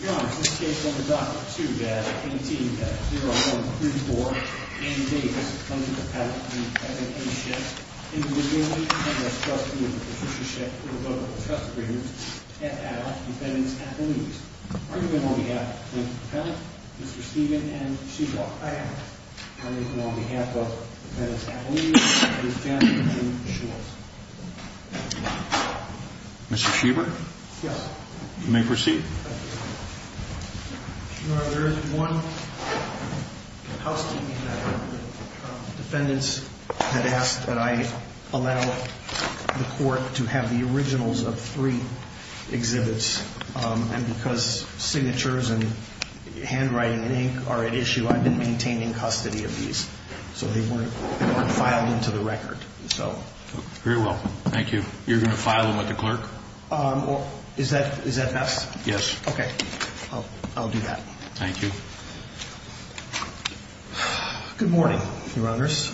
your honor, in this case under document 2, uh 18-0134, Andy Davis comes to the appellant for the present plaintiffship individually and has just renewed the petitionship for the vote of the trust agreement at ad hoc defendants at the least. are you then on behalf of the plaintiff appellant? Mr. Steven and Sheba? I am Are you then on behalf of defendants at least? Mr. Johnathan Schultz? Mr. Sheba? yes you may proceed your honor, there is one house deed that defendants had asked that I allow the court to have the originals of three exhibits and because signatures and handwriting and ink are at issue, I've been maintaining custody of these so they weren't filed into the record, so very well, thank you you're going to file them with the clerk? is that best? yes okay, I'll do that thank you good morning, your honors,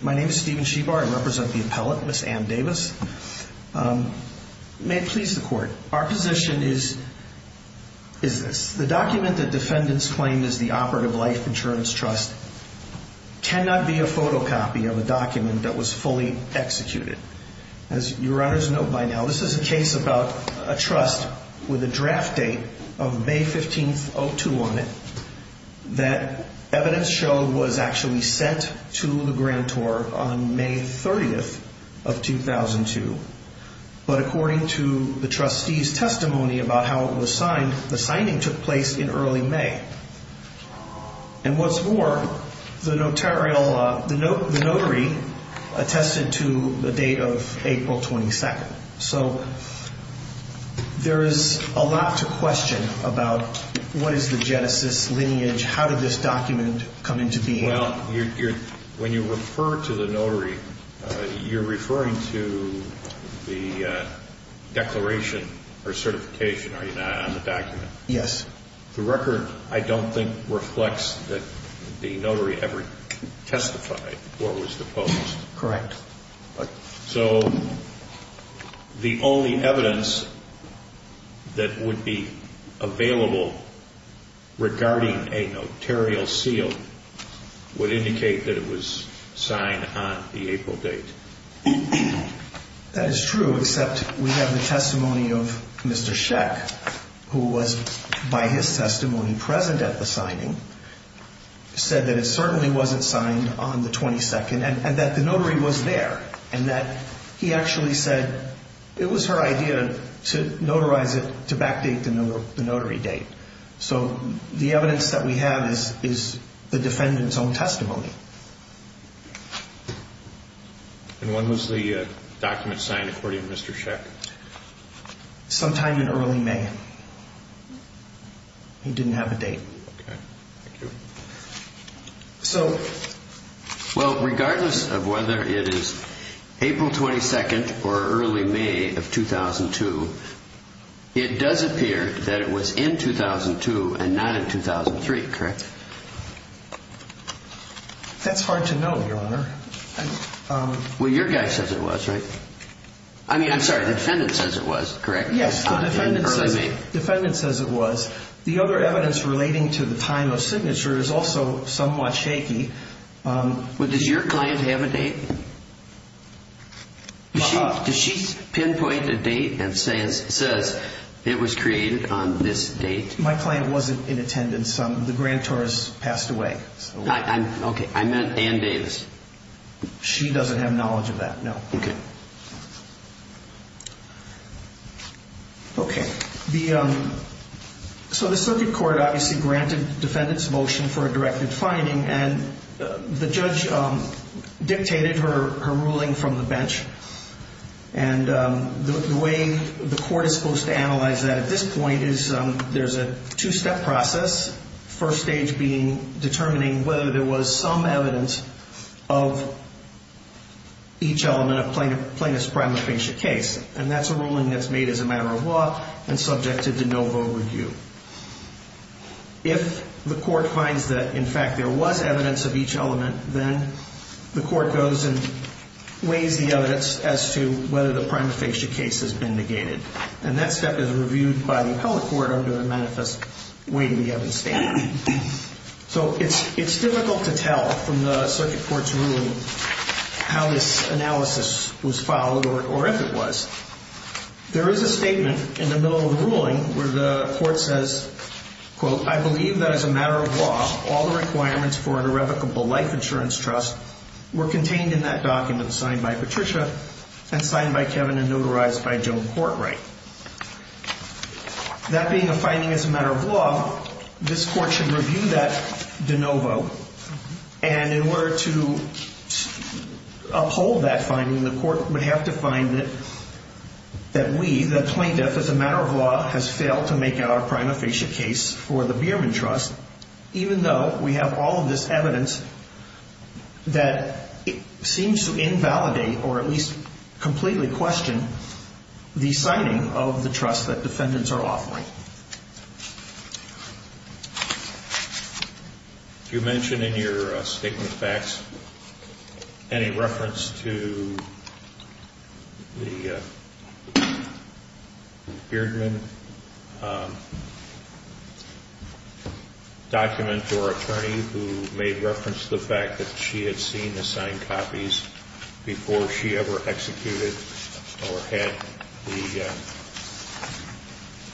my name is Steven Sheba, I represent the appellant, Ms. Ann Davis may it please the court, our position is this the document that defendants claim is the operative life insurance trust cannot be a photocopy of a document that was fully executed as your honors know by now, this is a case about a trust with a draft date of May 15th, 2002 on it that evidence showed was actually sent to the grantor on May 30th of 2002 but according to the trustee's testimony about how it was signed, the signing took place in early May and what's more, the notary attested to the date of April 22nd so there is a lot to question about what is the genesis, lineage, how did this document come into being well, when you refer to the notary, you're referring to the declaration or certification on the document yes the record I don't think reflects that the notary ever testified or was deposed correct so the only evidence that would be available regarding a notarial seal would indicate that it was signed on the April date that is true except we have the testimony of Mr. Sheck who was by his testimony present at the signing said that it certainly wasn't signed on the 22nd and that the notary was there and that he actually said it was her idea to notarize it to backdate the notary date so the evidence that we have is the defendant's own testimony and when was the document signed according to Mr. Sheck? sometime in early May he didn't have a date okay, thank you so well regardless of whether it is April 22nd or early May of 2002 it does appear that it was in 2002 and not in 2003, correct? that's hard to know, your honor well your guy says it was, right? I mean, I'm sorry, the defendant says it was, correct? yes, the defendant says it was the other evidence relating to the time of signature is also somewhat shaky well does your client have a date? does she pinpoint a date and says it was created on this date? my client wasn't in attendance, the grantor has passed away okay, I meant Ann Davis she doesn't have knowledge of that, no okay okay, the so the circuit court obviously granted the defendant's motion for a directed finding and the judge dictated her ruling from the bench and the way the court is supposed to analyze that at this point is there's a two-step process first stage being determining whether there was some evidence of each element of plaintiff's primary patient case and that's a ruling that's made as a matter of law and subjected to no vote review if the court finds that in fact there was evidence of each element then the court goes and weighs the evidence as to whether the primary patient case has been negated and that step is reviewed by the appellate court under the manifest weighing the evidence statement so it's difficult to tell from the circuit court's ruling how this analysis was followed or if it was there is a statement in the middle of the ruling where the court says I believe that as a matter of law all the requirements for an irrevocable life insurance trust were contained in that document signed by Patricia and signed by Kevin and notarized by Joan Courtright that being a finding as a matter of law this court should review that de novo and in order to uphold that finding the court would have to find that that we, the plaintiff, as a matter of law has failed to make our primary patient case for the Bierman Trust even though we have all of this evidence that seems to invalidate or at least completely question the signing of the trust that defendants are offering you mentioned in your statement of facts any reference to the Bierman document or attorney who made reference to the fact that she had seen the signed copies before she ever executed or had the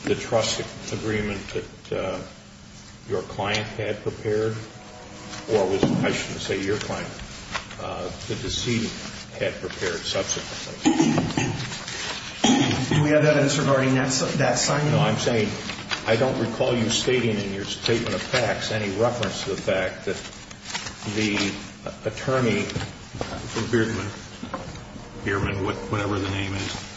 the trust agreement that your client had prepared or I shouldn't say your client had prepared subsequently can we have that answer regarding that signing I don't recall you stating in your statement of facts any reference to the fact that the attorney for Bierman whatever the name is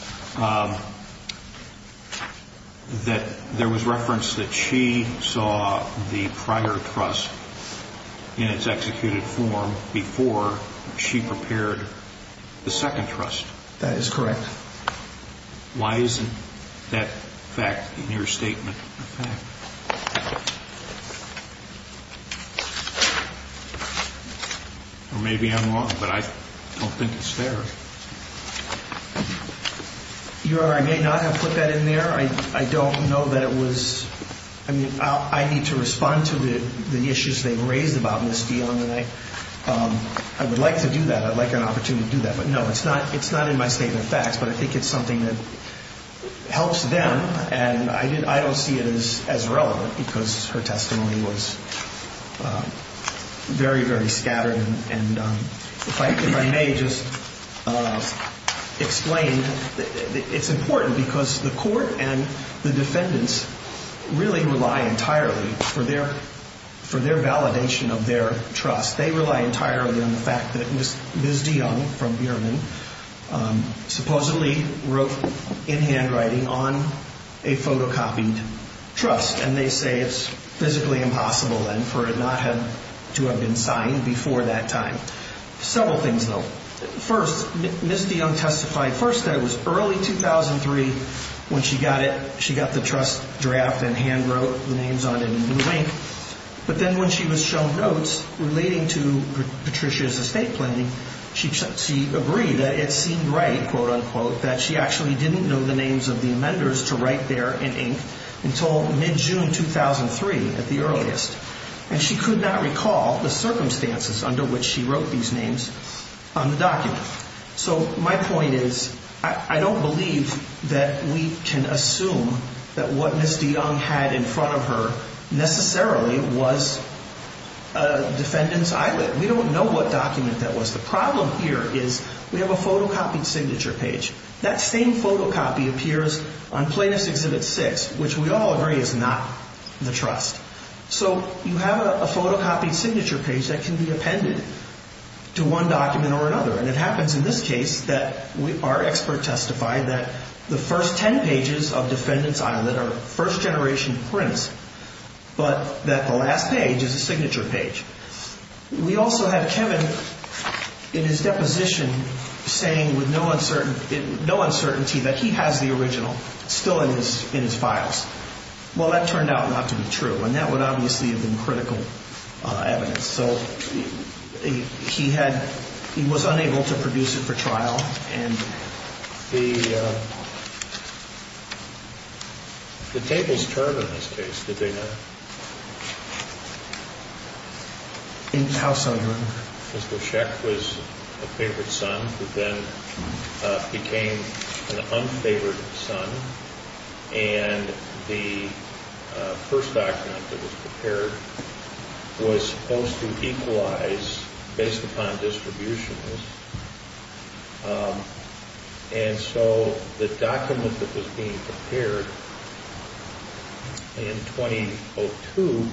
that there was reference that she saw the prior trust in its executed form before she prepared the second trust that is correct why isn't that fact in your statement of facts or maybe I'm wrong but I don't think it's there your honor I may not have put that in there I don't know that it was I need to respond to the issues they raised about Ms. Dion and I would like to do that I'd like an opportunity to do that but no it's not in my statement of facts but I think it's something that helps them and I don't see it as relevant because her testimony was very very scattered and if I may just explain it's important because the court and the defendants really rely entirely for their validation of their trust they rely entirely on the fact that Ms. Dion from Bierman supposedly wrote in handwriting on a photocopied trust and they say it's physically impossible for it not to have been signed before that time several things though first Ms. Dion testified that it was early 2003 when she got the trust draft and hand wrote the names on it in new ink but then when she was shown notes relating to Patricia's estate planning she agreed that it seemed right that she actually didn't know the names of the amenders to write there in ink until mid June 2003 at the earliest and she could not recall the circumstances under which she wrote these names on the document so my point is I don't believe that we can assume that what Ms. Dion had in front of her necessarily was a defendants eyelid we don't know what document that was the problem here is we have a photocopied signature page that same photocopy appears on plaintiff's exhibit 6 which we all agree is not the trust so you have a photocopied signature page that can be appended to one document or another and it happens in this case that our expert testified that the first 10 pages of defendants eyelid are first generation prints but that the last page is a signature page we also have Kevin in his deposition saying with no uncertainty that he has the original still in his files well that turned out not to be true and that would obviously have been critical evidence so he was unable to produce it for trial and the tables turned in this case did they not? how so? Mr. Sheck was a favorite son and the first document that was prepared was supposed to equalize based upon distribution and so the document that was being prepared in 2002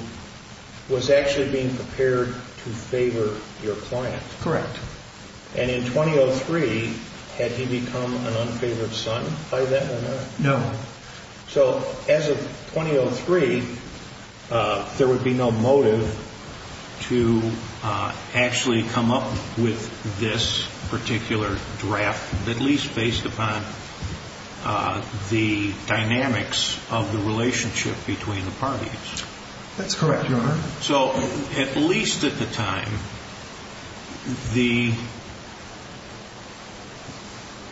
was actually being prepared to favor your client and in 2002 in 2003 had he become an unfavored son? no so as of 2003 there would be no motive to actually come up with this particular draft at least based upon the dynamics of the relationship between the parties that's correct your honor so at least at the time the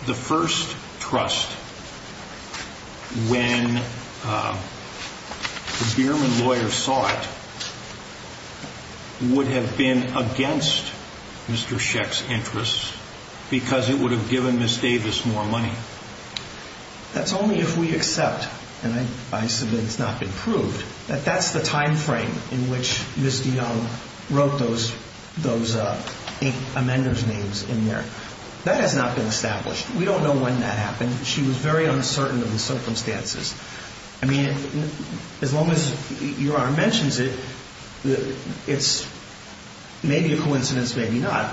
the first trust when the Bierman lawyers saw it would have been against Mr. Sheck's interests because it would have given Ms. Davis more money that's only if we accept that and I submit it's not been proved that that's the time frame in which Ms. DeYoung wrote those amenders names in there that has not been established we don't know when that happened she was very uncertain of the circumstances as long as your honor mentions it it's maybe a coincidence maybe not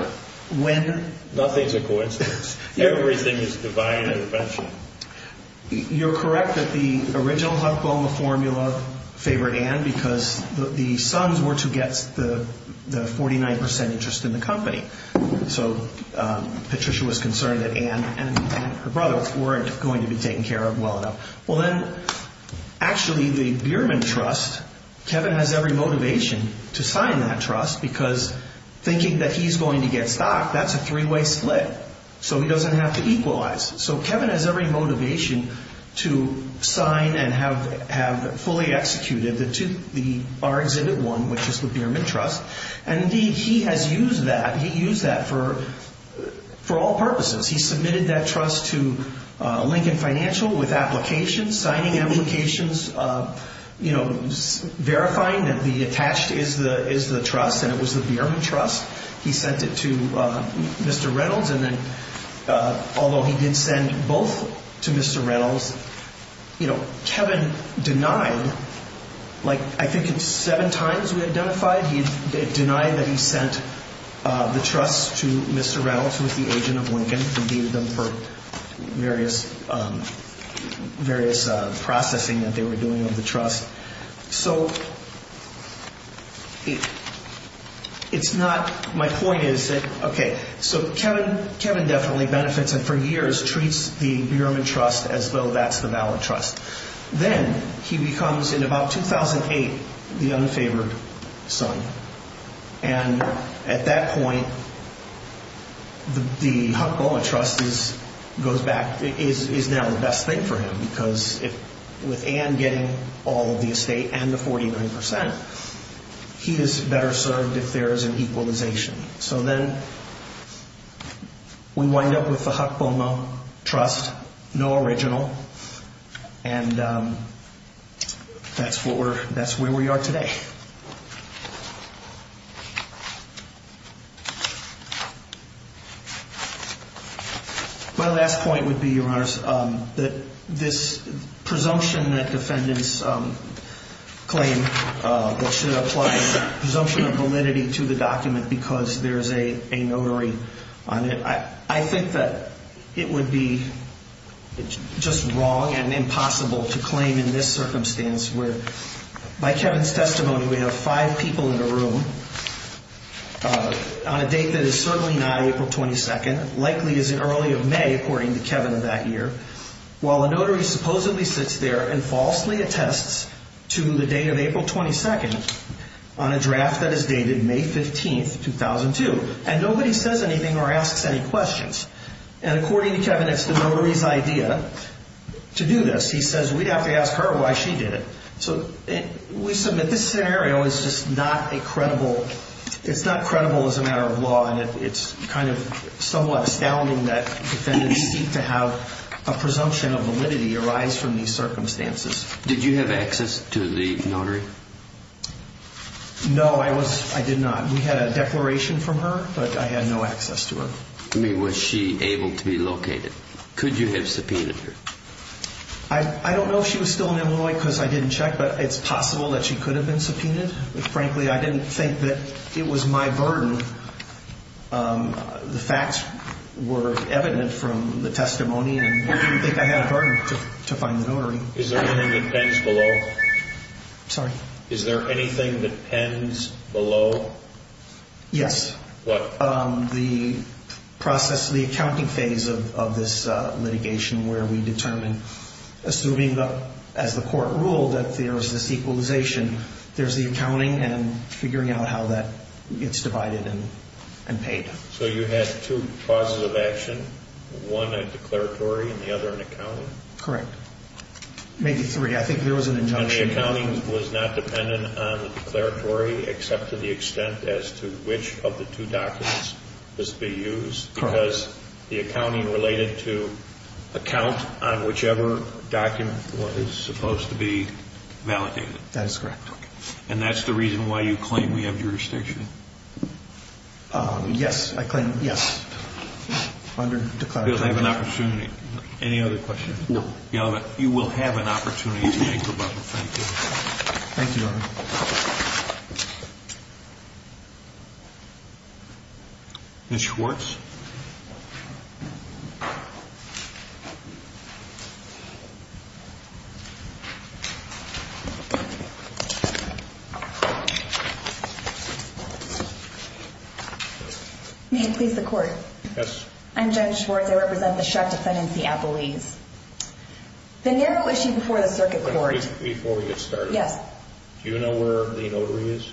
nothing is a coincidence everything is divine intervention you're correct that the original Huck Boma formula favored Ann because the sons were to get the 49% interest in the company so Patricia was concerned that Ann and her brother weren't going to be taken care of well enough well then actually the Bierman trust Kevin has every motivation to sign that trust because thinking that he's going to get stocked that's a three way split so he doesn't have to equalize so Kevin has every motivation to sign and have fully executed our exhibit one which is the Bierman trust and indeed he has used that for all purposes he submitted that trust to Lincoln Financial with applications signing applications verifying that the attached is the trust and it was the Bierman trust he sent it to Mr. Reynolds and then although he did send both to Mr. Reynolds Kevin denied I think it's seven times we identified he denied that he sent the trust to Mr. Reynolds who was the agent of Lincoln and gave them for various processing that they were doing of the trust so it's not my point is so Kevin definitely benefits and for years treats the Bierman trust as though that's the valid trust then he becomes in about 2008 the unfavored son and at that point the Huck-Boa trust is now the best thing for him because with Ann getting all of the estate and the 49% he is better served if there is an equalization so then we wind up with the Huck-Boa trust no original and that's where we are today my last point would be that this presumption that defendants claim that should apply presumption of validity to the document because there is a notary I think that it would be just wrong and impossible to claim in this circumstance where by Kevin's testimony we have five people in the room on a date that is certainly not April 22nd likely as early as May according to Kevin of that year while a notary supposedly sits there and falsely attests to the date of April 22nd on a draft that is dated May 15, 2002 and nobody says anything or asks any questions and according to Kevin it's the notary's idea to do this he says we have to ask her why she did it so we submit this scenario it's not credible as a matter of law and it's somewhat astounding that defendants seek to have a presumption of validity arise from these circumstances did you have access to the notary? no I did not we had a declaration from her but I had no access to her was she able to be located? could you have subpoenaed her? I don't know if she was still in Illinois because I didn't check but it's possible that she could have been subpoenaed but frankly I didn't think that it was my burden the facts were evident from the testimony and I didn't think I had a burden to find the notary is there anything that pens below? sorry? is there anything that pens below? yes the accounting phase of this litigation where we determine assuming as the court ruled that there's this equalization there's the accounting and figuring out how that gets divided and paid so you had two clauses of action one a declaratory and the other an accounting? maybe three I think there was an injunction the accounting was not dependent on the declaratory except to the extent as to which of the two documents must be used because the accounting related to account on whichever document was supposed to be validated and that's the reason why you claim we have jurisdiction? yes you will have an opportunity thank you Ms. Schwartz may it please the court I'm Judge Schwartz I represent the sharp defendant the narrow issue before the circuit before we get started do you know where the notary is?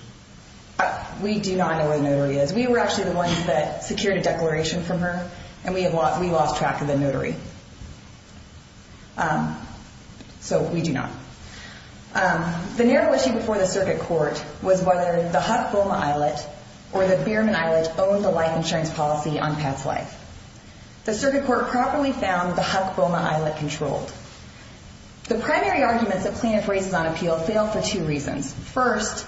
we do not know where the notary is we were actually the ones that secured a declaration from her and we lost track of the notary so we do not the narrow issue before the circuit court was whether the Huck-Boma Islet or the Behrman Islet owned the life insurance policy on Pat's wife the circuit court properly found the Huck-Boma Islet controlled the primary arguments that plaintiff raises on appeal fail for two reasons first,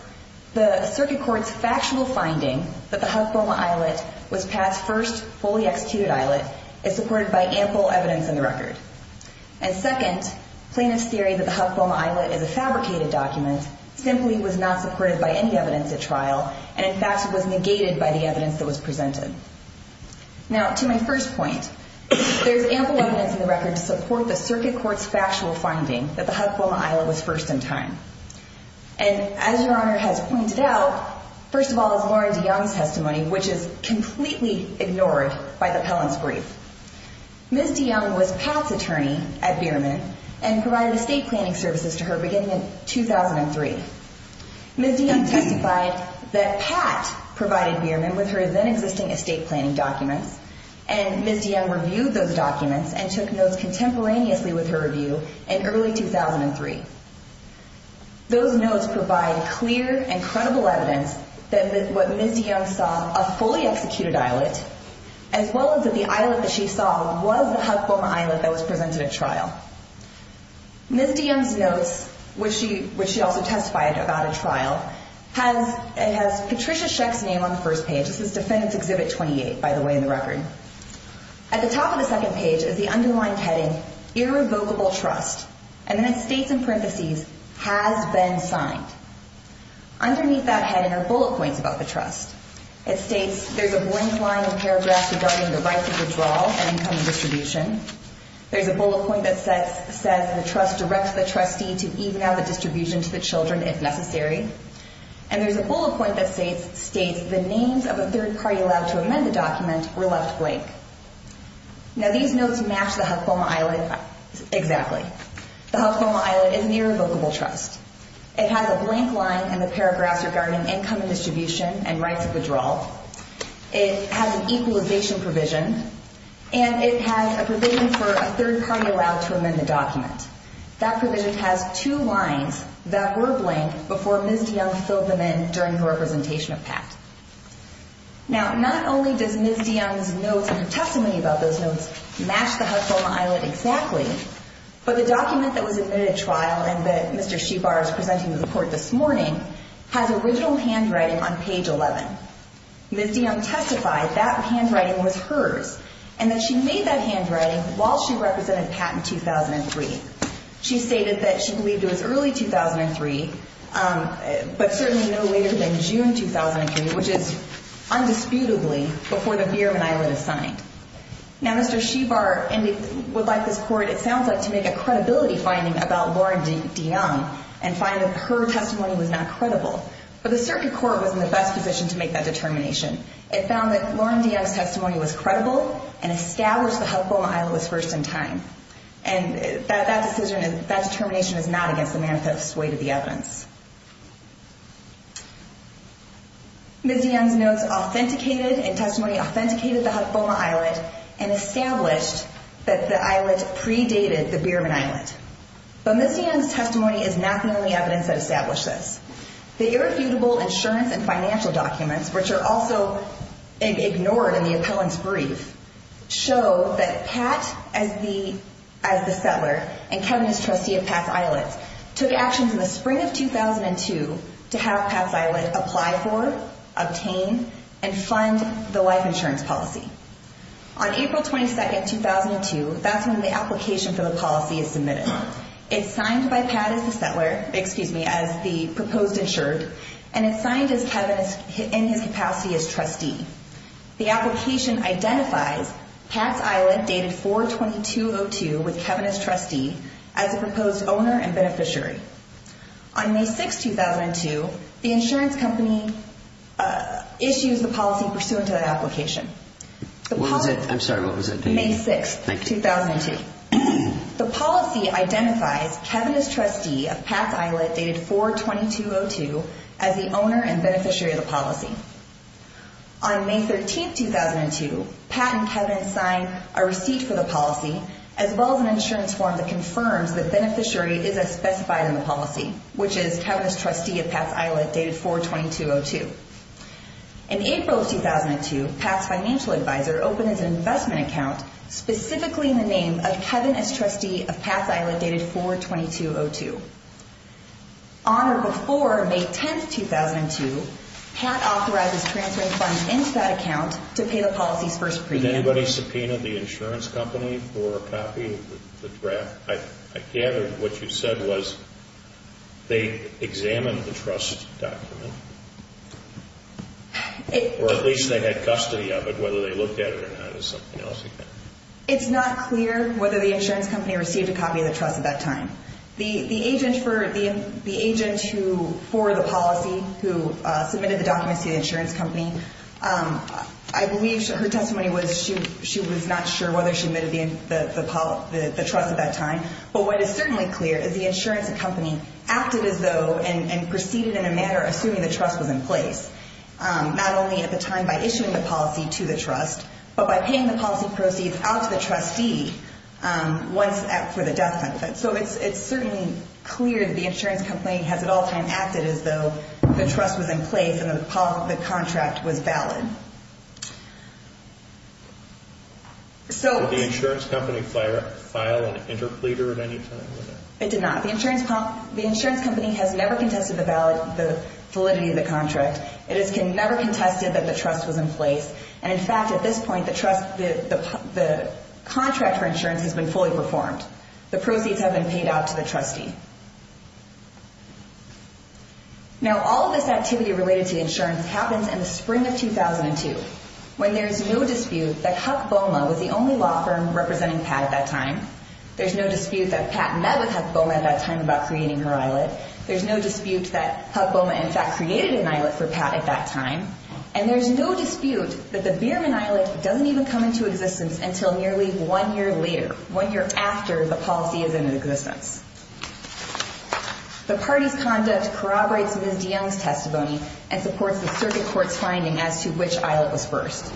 the circuit court's factual finding that the Huck-Boma Islet was Pat's first fully executed islet is supported by ample evidence in the record and second, plaintiff's theory that the Huck-Boma Islet is a fabricated document simply was not supported by any evidence at trial and in fact was negated by the evidence that was presented now to my first point there is ample evidence in the record to support the circuit court's factual finding that the Huck-Boma Islet was first in time and as your honor has pointed out first of all is Lauren DeYoung's testimony which is completely ignored by the appellant's brief Ms. DeYoung was Pat's attorney at Behrman and provided estate planning services to her beginning in 2003 Ms. DeYoung testified that Pat provided Behrman with her then existing estate planning documents and Ms. DeYoung reviewed those documents and took notes contemporaneously with her review in early 2003 those notes provide clear and credible evidence that what Ms. DeYoung saw a fully executed islet as well as that the islet that she saw was the Huck-Boma Islet that was presented at trial Ms. DeYoung's notes which she also testified about at trial has Patricia Sheck's name on the first page this is defendant's exhibit 28 by the way in the record at the top of the second page is the underlined heading irrevocable trust and then it states in parenthesis has been signed underneath that heading are bullet points about the trust it states there is a blank line in the paragraph regarding the right to withdraw and income and distribution there is a bullet point that says the trust directs the trustee to even out the distribution to the children if necessary and there is a bullet point that states the names of a third party allowed to amend the document were left blank now these notes match the Huck-Boma Islet exactly the Huck-Boma Islet is an irrevocable trust it has a blank line in the paragraph regarding income and distribution and rights of withdrawal it has an equalization provision and it has a provision for a third party allowed to amend the document that provision has two lines that were blank before Ms. DeYoung filled them in during the representation of PACT now not only does Ms. DeYoung's notes and her testimony about those notes match the Huck-Boma Islet exactly but the document that was admitted at trial and that Mr. Shebar is presenting to the court this morning has original handwriting on page 11 Ms. DeYoung testified that handwriting was hers and that she made that handwriting while she represented PACT in 2003 she stated that she believed it was early 2003 but certainly no later than June 2003 which is undisputably before the Berman Islet is signed now Mr. Shebar and we would like this court it sounds like to make a credibility finding about Lauren DeYoung and find that her testimony was not credible but the circuit court was in the best position to make that determination it found that Lauren DeYoung's testimony was credible and established the Huck-Boma Islet was first in time and that determination is not against the manifest way to the evidence Ms. DeYoung's notes authenticated and testimony authenticated the Huck-Boma Islet and established that the islet predated the Berman Islet but Ms. DeYoung's testimony is not the only evidence that established this the irrefutable insurance and financial documents which are also ignored in the appellant's brief show that Pat as the settler and Kevin as trustee of Pat's Islet took actions in the spring of 2002 to have Pat's Islet apply for, obtain and fund the life insurance policy on April 22, 2002 that's when the application for the policy is submitted it's signed by Pat as the settler as the proposed insured and it's signed in his capacity as trustee the application identifies Pat's Islet dated 4-22-02 with Kevin as trustee as the proposed owner and beneficiary on May 6, 2002, the insurance company issues the policy pursuant to the application I'm sorry, what was the date? May 6, 2002 the policy identifies Kevin as trustee of Pat's Islet dated 4-22-02 as the owner and beneficiary of the policy on May 13, 2002, Pat and Kevin sign a receipt for the policy as well as an insurance form that confirms the beneficiary is as specified in the policy which is Kevin as trustee of Pat's Islet dated 4-22-02 in April of 2002 Pat's financial advisor opens an investment account specifically in the name of Kevin as trustee of Pat's Islet dated 4-22-02 on or before May 10, 2002 Pat authorizes transferring funds into that account to pay the policy's first premium did anybody subpoena the insurance company for a copy of the draft? I gather what you said was they examined the trust document or at least they had custody of it whether they looked at it or not it's not clear whether the insurance company received a copy of the trust at that time the agent for the policy who submitted the documents to the insurance company I believe her testimony was she was not sure whether she admitted the trust at that time but what is certainly clear is the insurance company acted as though and proceeded in a manner assuming the trust was in place not only at the time by issuing the policy to the trust but by paying the policy proceeds out to the trustee once for the death benefit so it's certainly clear that the insurance company has at all times acted as though the trust was in place and the contract was valid did the insurance company file an interpleader at any time? it did not the insurance company has never contested the validity of the contract it has never contested that the trust was in place and in fact at this point the contract for insurance has been fully performed the proceeds have been paid out to the trustee now all of this activity related to insurance happens in the spring of 2002 when there is no dispute that Huck Boma was the only law firm representing Pat at that time there's no dispute that Pat met with Huck Boma at that time about creating her islet there's no dispute that Huck Boma in fact created an islet for Pat at that time and there's no dispute that the Behrman Islet doesn't even come into existence until nearly one year later one year after the policy is in existence the party's conduct corroborates Ms. DeYoung's testimony and supports the circuit court's finding as to which islet was first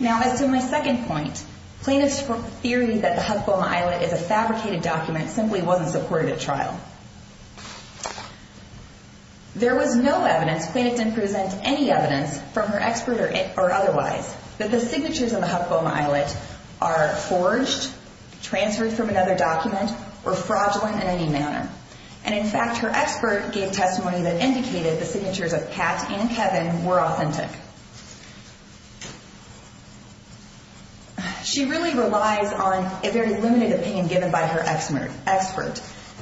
now as to my second point plaintiffs' theory that the Huck Boma islet is a fabricated document simply wasn't supported at trial there was no evidence plaintiffs didn't present any evidence from her expert or otherwise that the signatures on the Huck Boma islet are forged, transferred from another document or fraudulent in any manner and in fact her expert gave testimony that indicated the signatures of Pat and Kevin were authentic she really relies on a very limited opinion given by her expert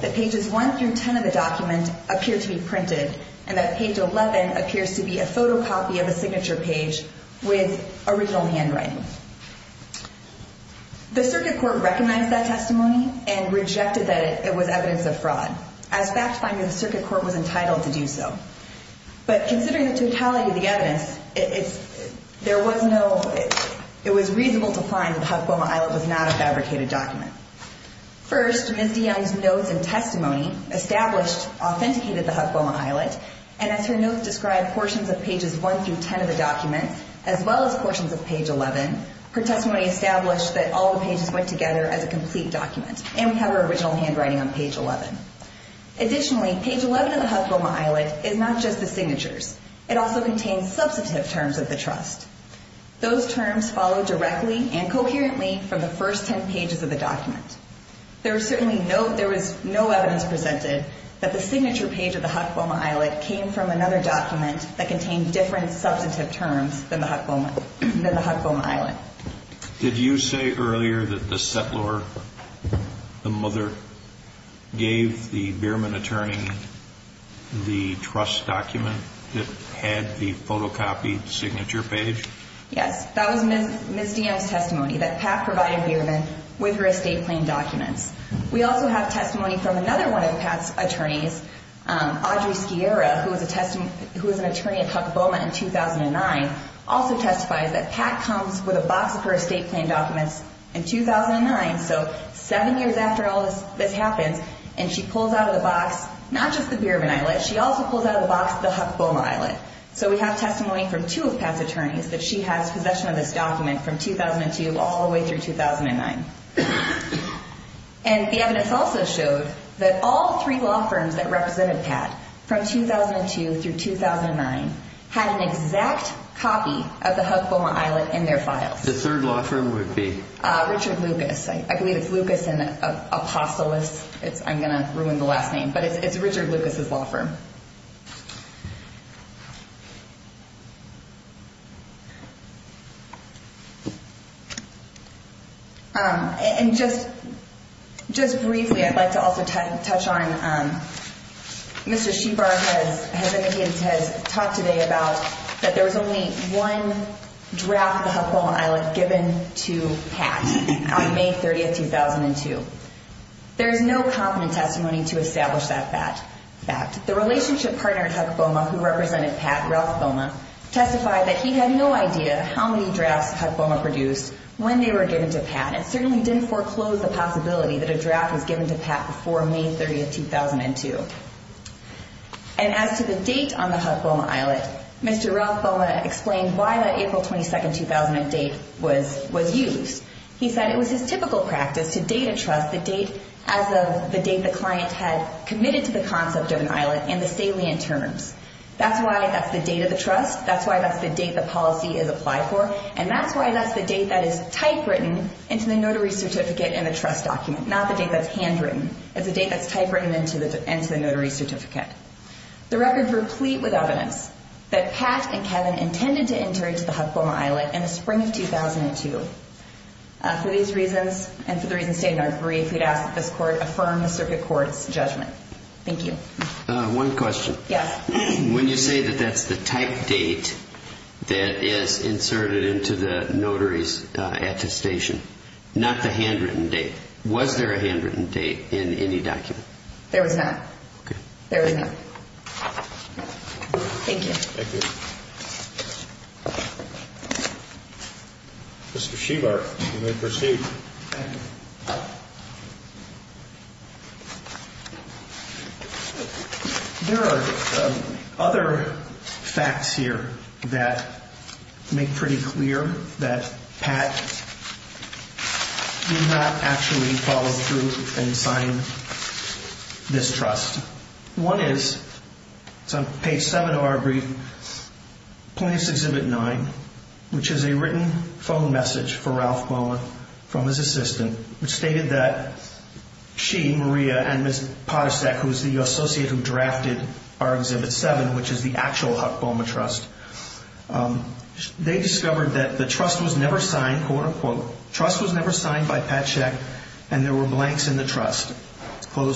that pages one through ten of the document appear to be printed and that page eleven appears to be a photocopy of a signature page with original handwriting the circuit court recognized that testimony and rejected that it was evidence of fraud as fact finding the circuit court was entitled to do so but considering the totality of the evidence there was no it was reasonable to find that the Huck Boma islet was not a fabricated document first, Ms. DeYoung's notes and testimony established, authenticated the Huck Boma islet and as her notes described portions of pages one through ten of the document as well as portions of page eleven her testimony established that all the pages went together as a complete document and we have her original handwriting on page eleven additionally, page eleven of the Huck Boma islet is not just the signatures, it also contains substantive terms of the trust those terms follow directly and coherently from the first ten pages of the document there was certainly no evidence presented that the signature page of the Huck Boma islet came from another document that contained different substantive terms than the Huck Boma islet did you say earlier that the settlor the mother gave the Behrman attorney the trust document that had the photocopied signature page yes, that was Ms. DeYoung's testimony that Pat provided Behrman with her estate plan documents we also have testimony from another one of Pat's attorneys Audrey Skiera, who was an attorney at Huck Boma in 2009 also testifies that Pat comes with a box of her estate plan documents in 2009, so seven years after all this happens and she pulls out of the box not just the Behrman islet, she also pulls out of the box the Huck Boma islet so we have testimony from two of Pat's attorneys that she has possession of this document from 2002 all the way through 2009 and the evidence also showed that all three law firms that represented Pat from 2002 through 2009 had an exact copy of the Huck Boma islet in their files the third law firm would be? Richard Lucas, I believe it's Lucas and Apostolous I'm going to ruin the last name, but it's Richard Lucas' law firm and just briefly I'd like to also touch on Mr. Shebar has indicated, has talked today about that there was only one draft of the Huck Boma islet given to Pat on May 30, 2002 there is no confident testimony to establish that fact the relationship partner at Huck Boma who represented Pat Ralph Boma testified that he had no idea how many drafts Huck Boma produced when they were given to Pat and certainly didn't foreclose the possibility that a draft was given to Pat before May 30, 2002 and as to the date on the Huck Boma islet Mr. Ralph Boma explained why that April 22, 2000 date was used he said it was his typical practice to date a trust as of the date the client had committed to the concept of an islet in the salient terms that's why that's the date of the trust, that's why that's the date the policy is applied for and that's why that's the date that is typewritten into the notary certificate in the trust document not the date that's handwritten, it's the date that's typewritten into the notary certificate the record is replete with evidence that Pat and Kevin intended to enter into the Huck Boma islet in the spring of 2002 for these reasons and for the reasons stated in our brief we'd ask that this court affirm the circuit court's judgment thank you one question, when you say that that's the type date that is inserted into the notary's attestation not the handwritten date, was there a handwritten date in any document? there was not there was not thank you there are other facts here that make pretty clear that Pat did not actually follow through and sign this trust one is it's on page 7 of our brief plaintiff's exhibit 9 which is a written phone message for Ralph Boma from his assistant which stated that she, Maria and Ms. Potasek who is the associate who drafted our exhibit 7 which is the actual Huck Boma trust they discovered that the trust was never signed trust was never signed by Potasek and there were blanks in the trust and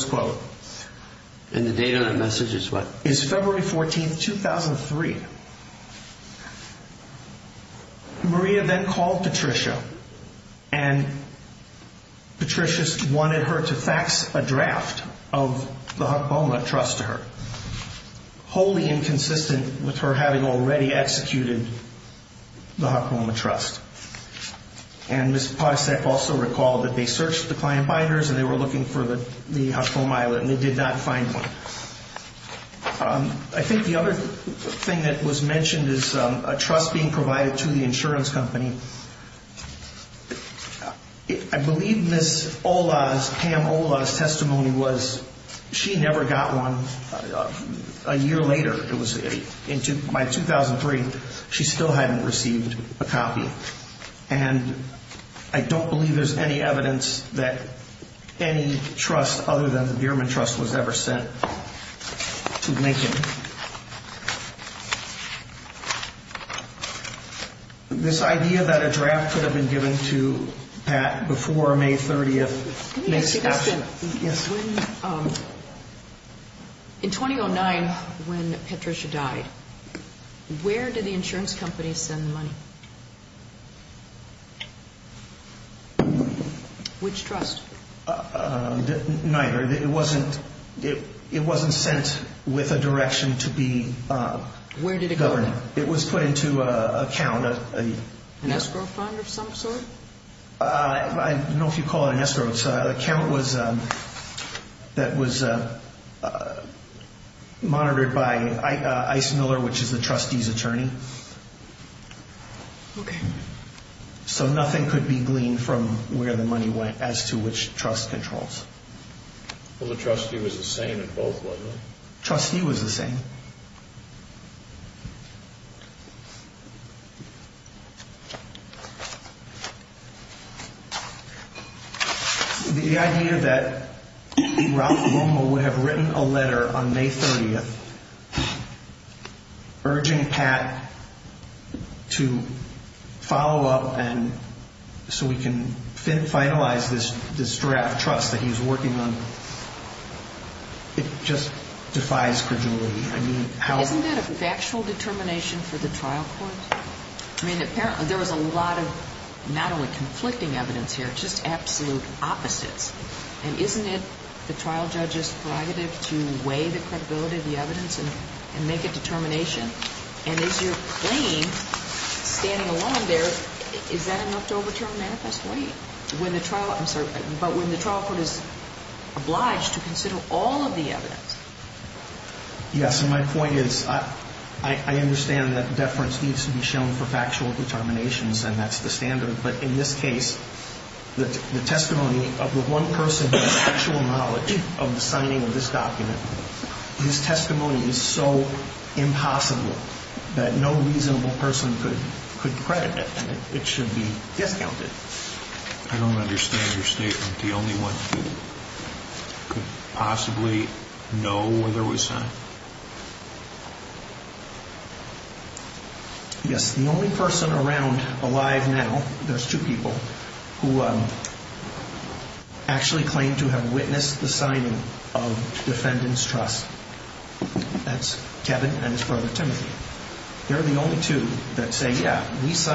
the date on the message is what? is February 14, 2003 Maria then called Patricia and Patricia wanted her to fax a draft of the Huck Boma trust to her which was wholly inconsistent with her having already executed the Huck Boma trust and Ms. Potasek also recalled that they searched the client binders and they were looking for the Huck Boma islet and they did not find one I think the other thing that was mentioned is a trust being provided to the insurance company I believe Ms. Ola's Pam Ola's testimony was she never got one a year later it was by 2003 she still hadn't received a copy and I don't believe there's any evidence that any trust other than the Bierman trust was ever sent to Lincoln this idea that a draft could have been given to Pat before May 30th in 2009 when Patricia died where did the insurance company send the money? which trust? neither, it wasn't sent it was put into an account an escrow fund of some sort? I don't know if you call it an escrow an account that was monitored by Ice Miller which is the trustee's attorney so nothing could be gleaned from where the money went as to which trust controls well the trustee was the same in both wasn't it? the trustee was the same the idea that Ralph Romo would have written a letter on May 30th urging Pat to follow up so we can finalize this draft trust that he was working on it just defies credulity isn't that a factual determination for the trial court? there was a lot of not only conflicting evidence here just absolute opposites and isn't it the trial judge's prerogative to weigh the credibility of the evidence and make a determination and as you're playing standing alone there is that enough to overturn Manifest 20? but when the trial court is obliged to consider all of the evidence yes and my point is I understand that deference needs to be shown for factual determinations and that's the standard but in this case the testimony of the one person with factual knowledge of the signing of this document his testimony is so impossible that no reasonable person could credit it and it should be discounted I don't understand your statement the only one who could possibly know whether it was sent yes the only person around alive now, there's two people who actually claim to have witnessed the signing of defendant's trust that's Kevin and his brother Timothy they're the only two that say yeah this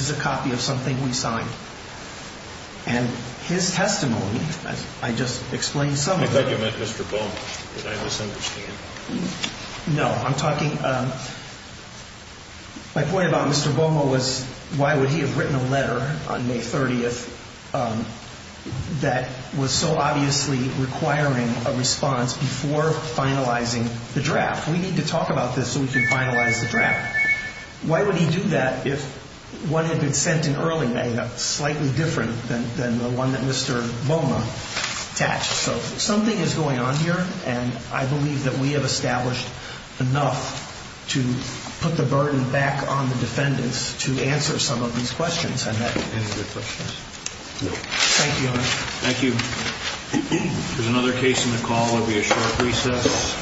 is a copy of something we signed and his testimony I just explained some of it I thought you meant Mr. Bomo no I'm talking my point about Mr. Bomo was why would he have written a letter on May 30th that was so obviously requiring a response before finalizing the draft we need to talk about this so we can finalize the draft why would he do that if one had been sent in early May slightly different than the one that Mr. Boma attached so something is going on here and I believe that we have established enough to put the burden back on the defendants to answer some of these questions thank you there's another case in the call there will be a short recess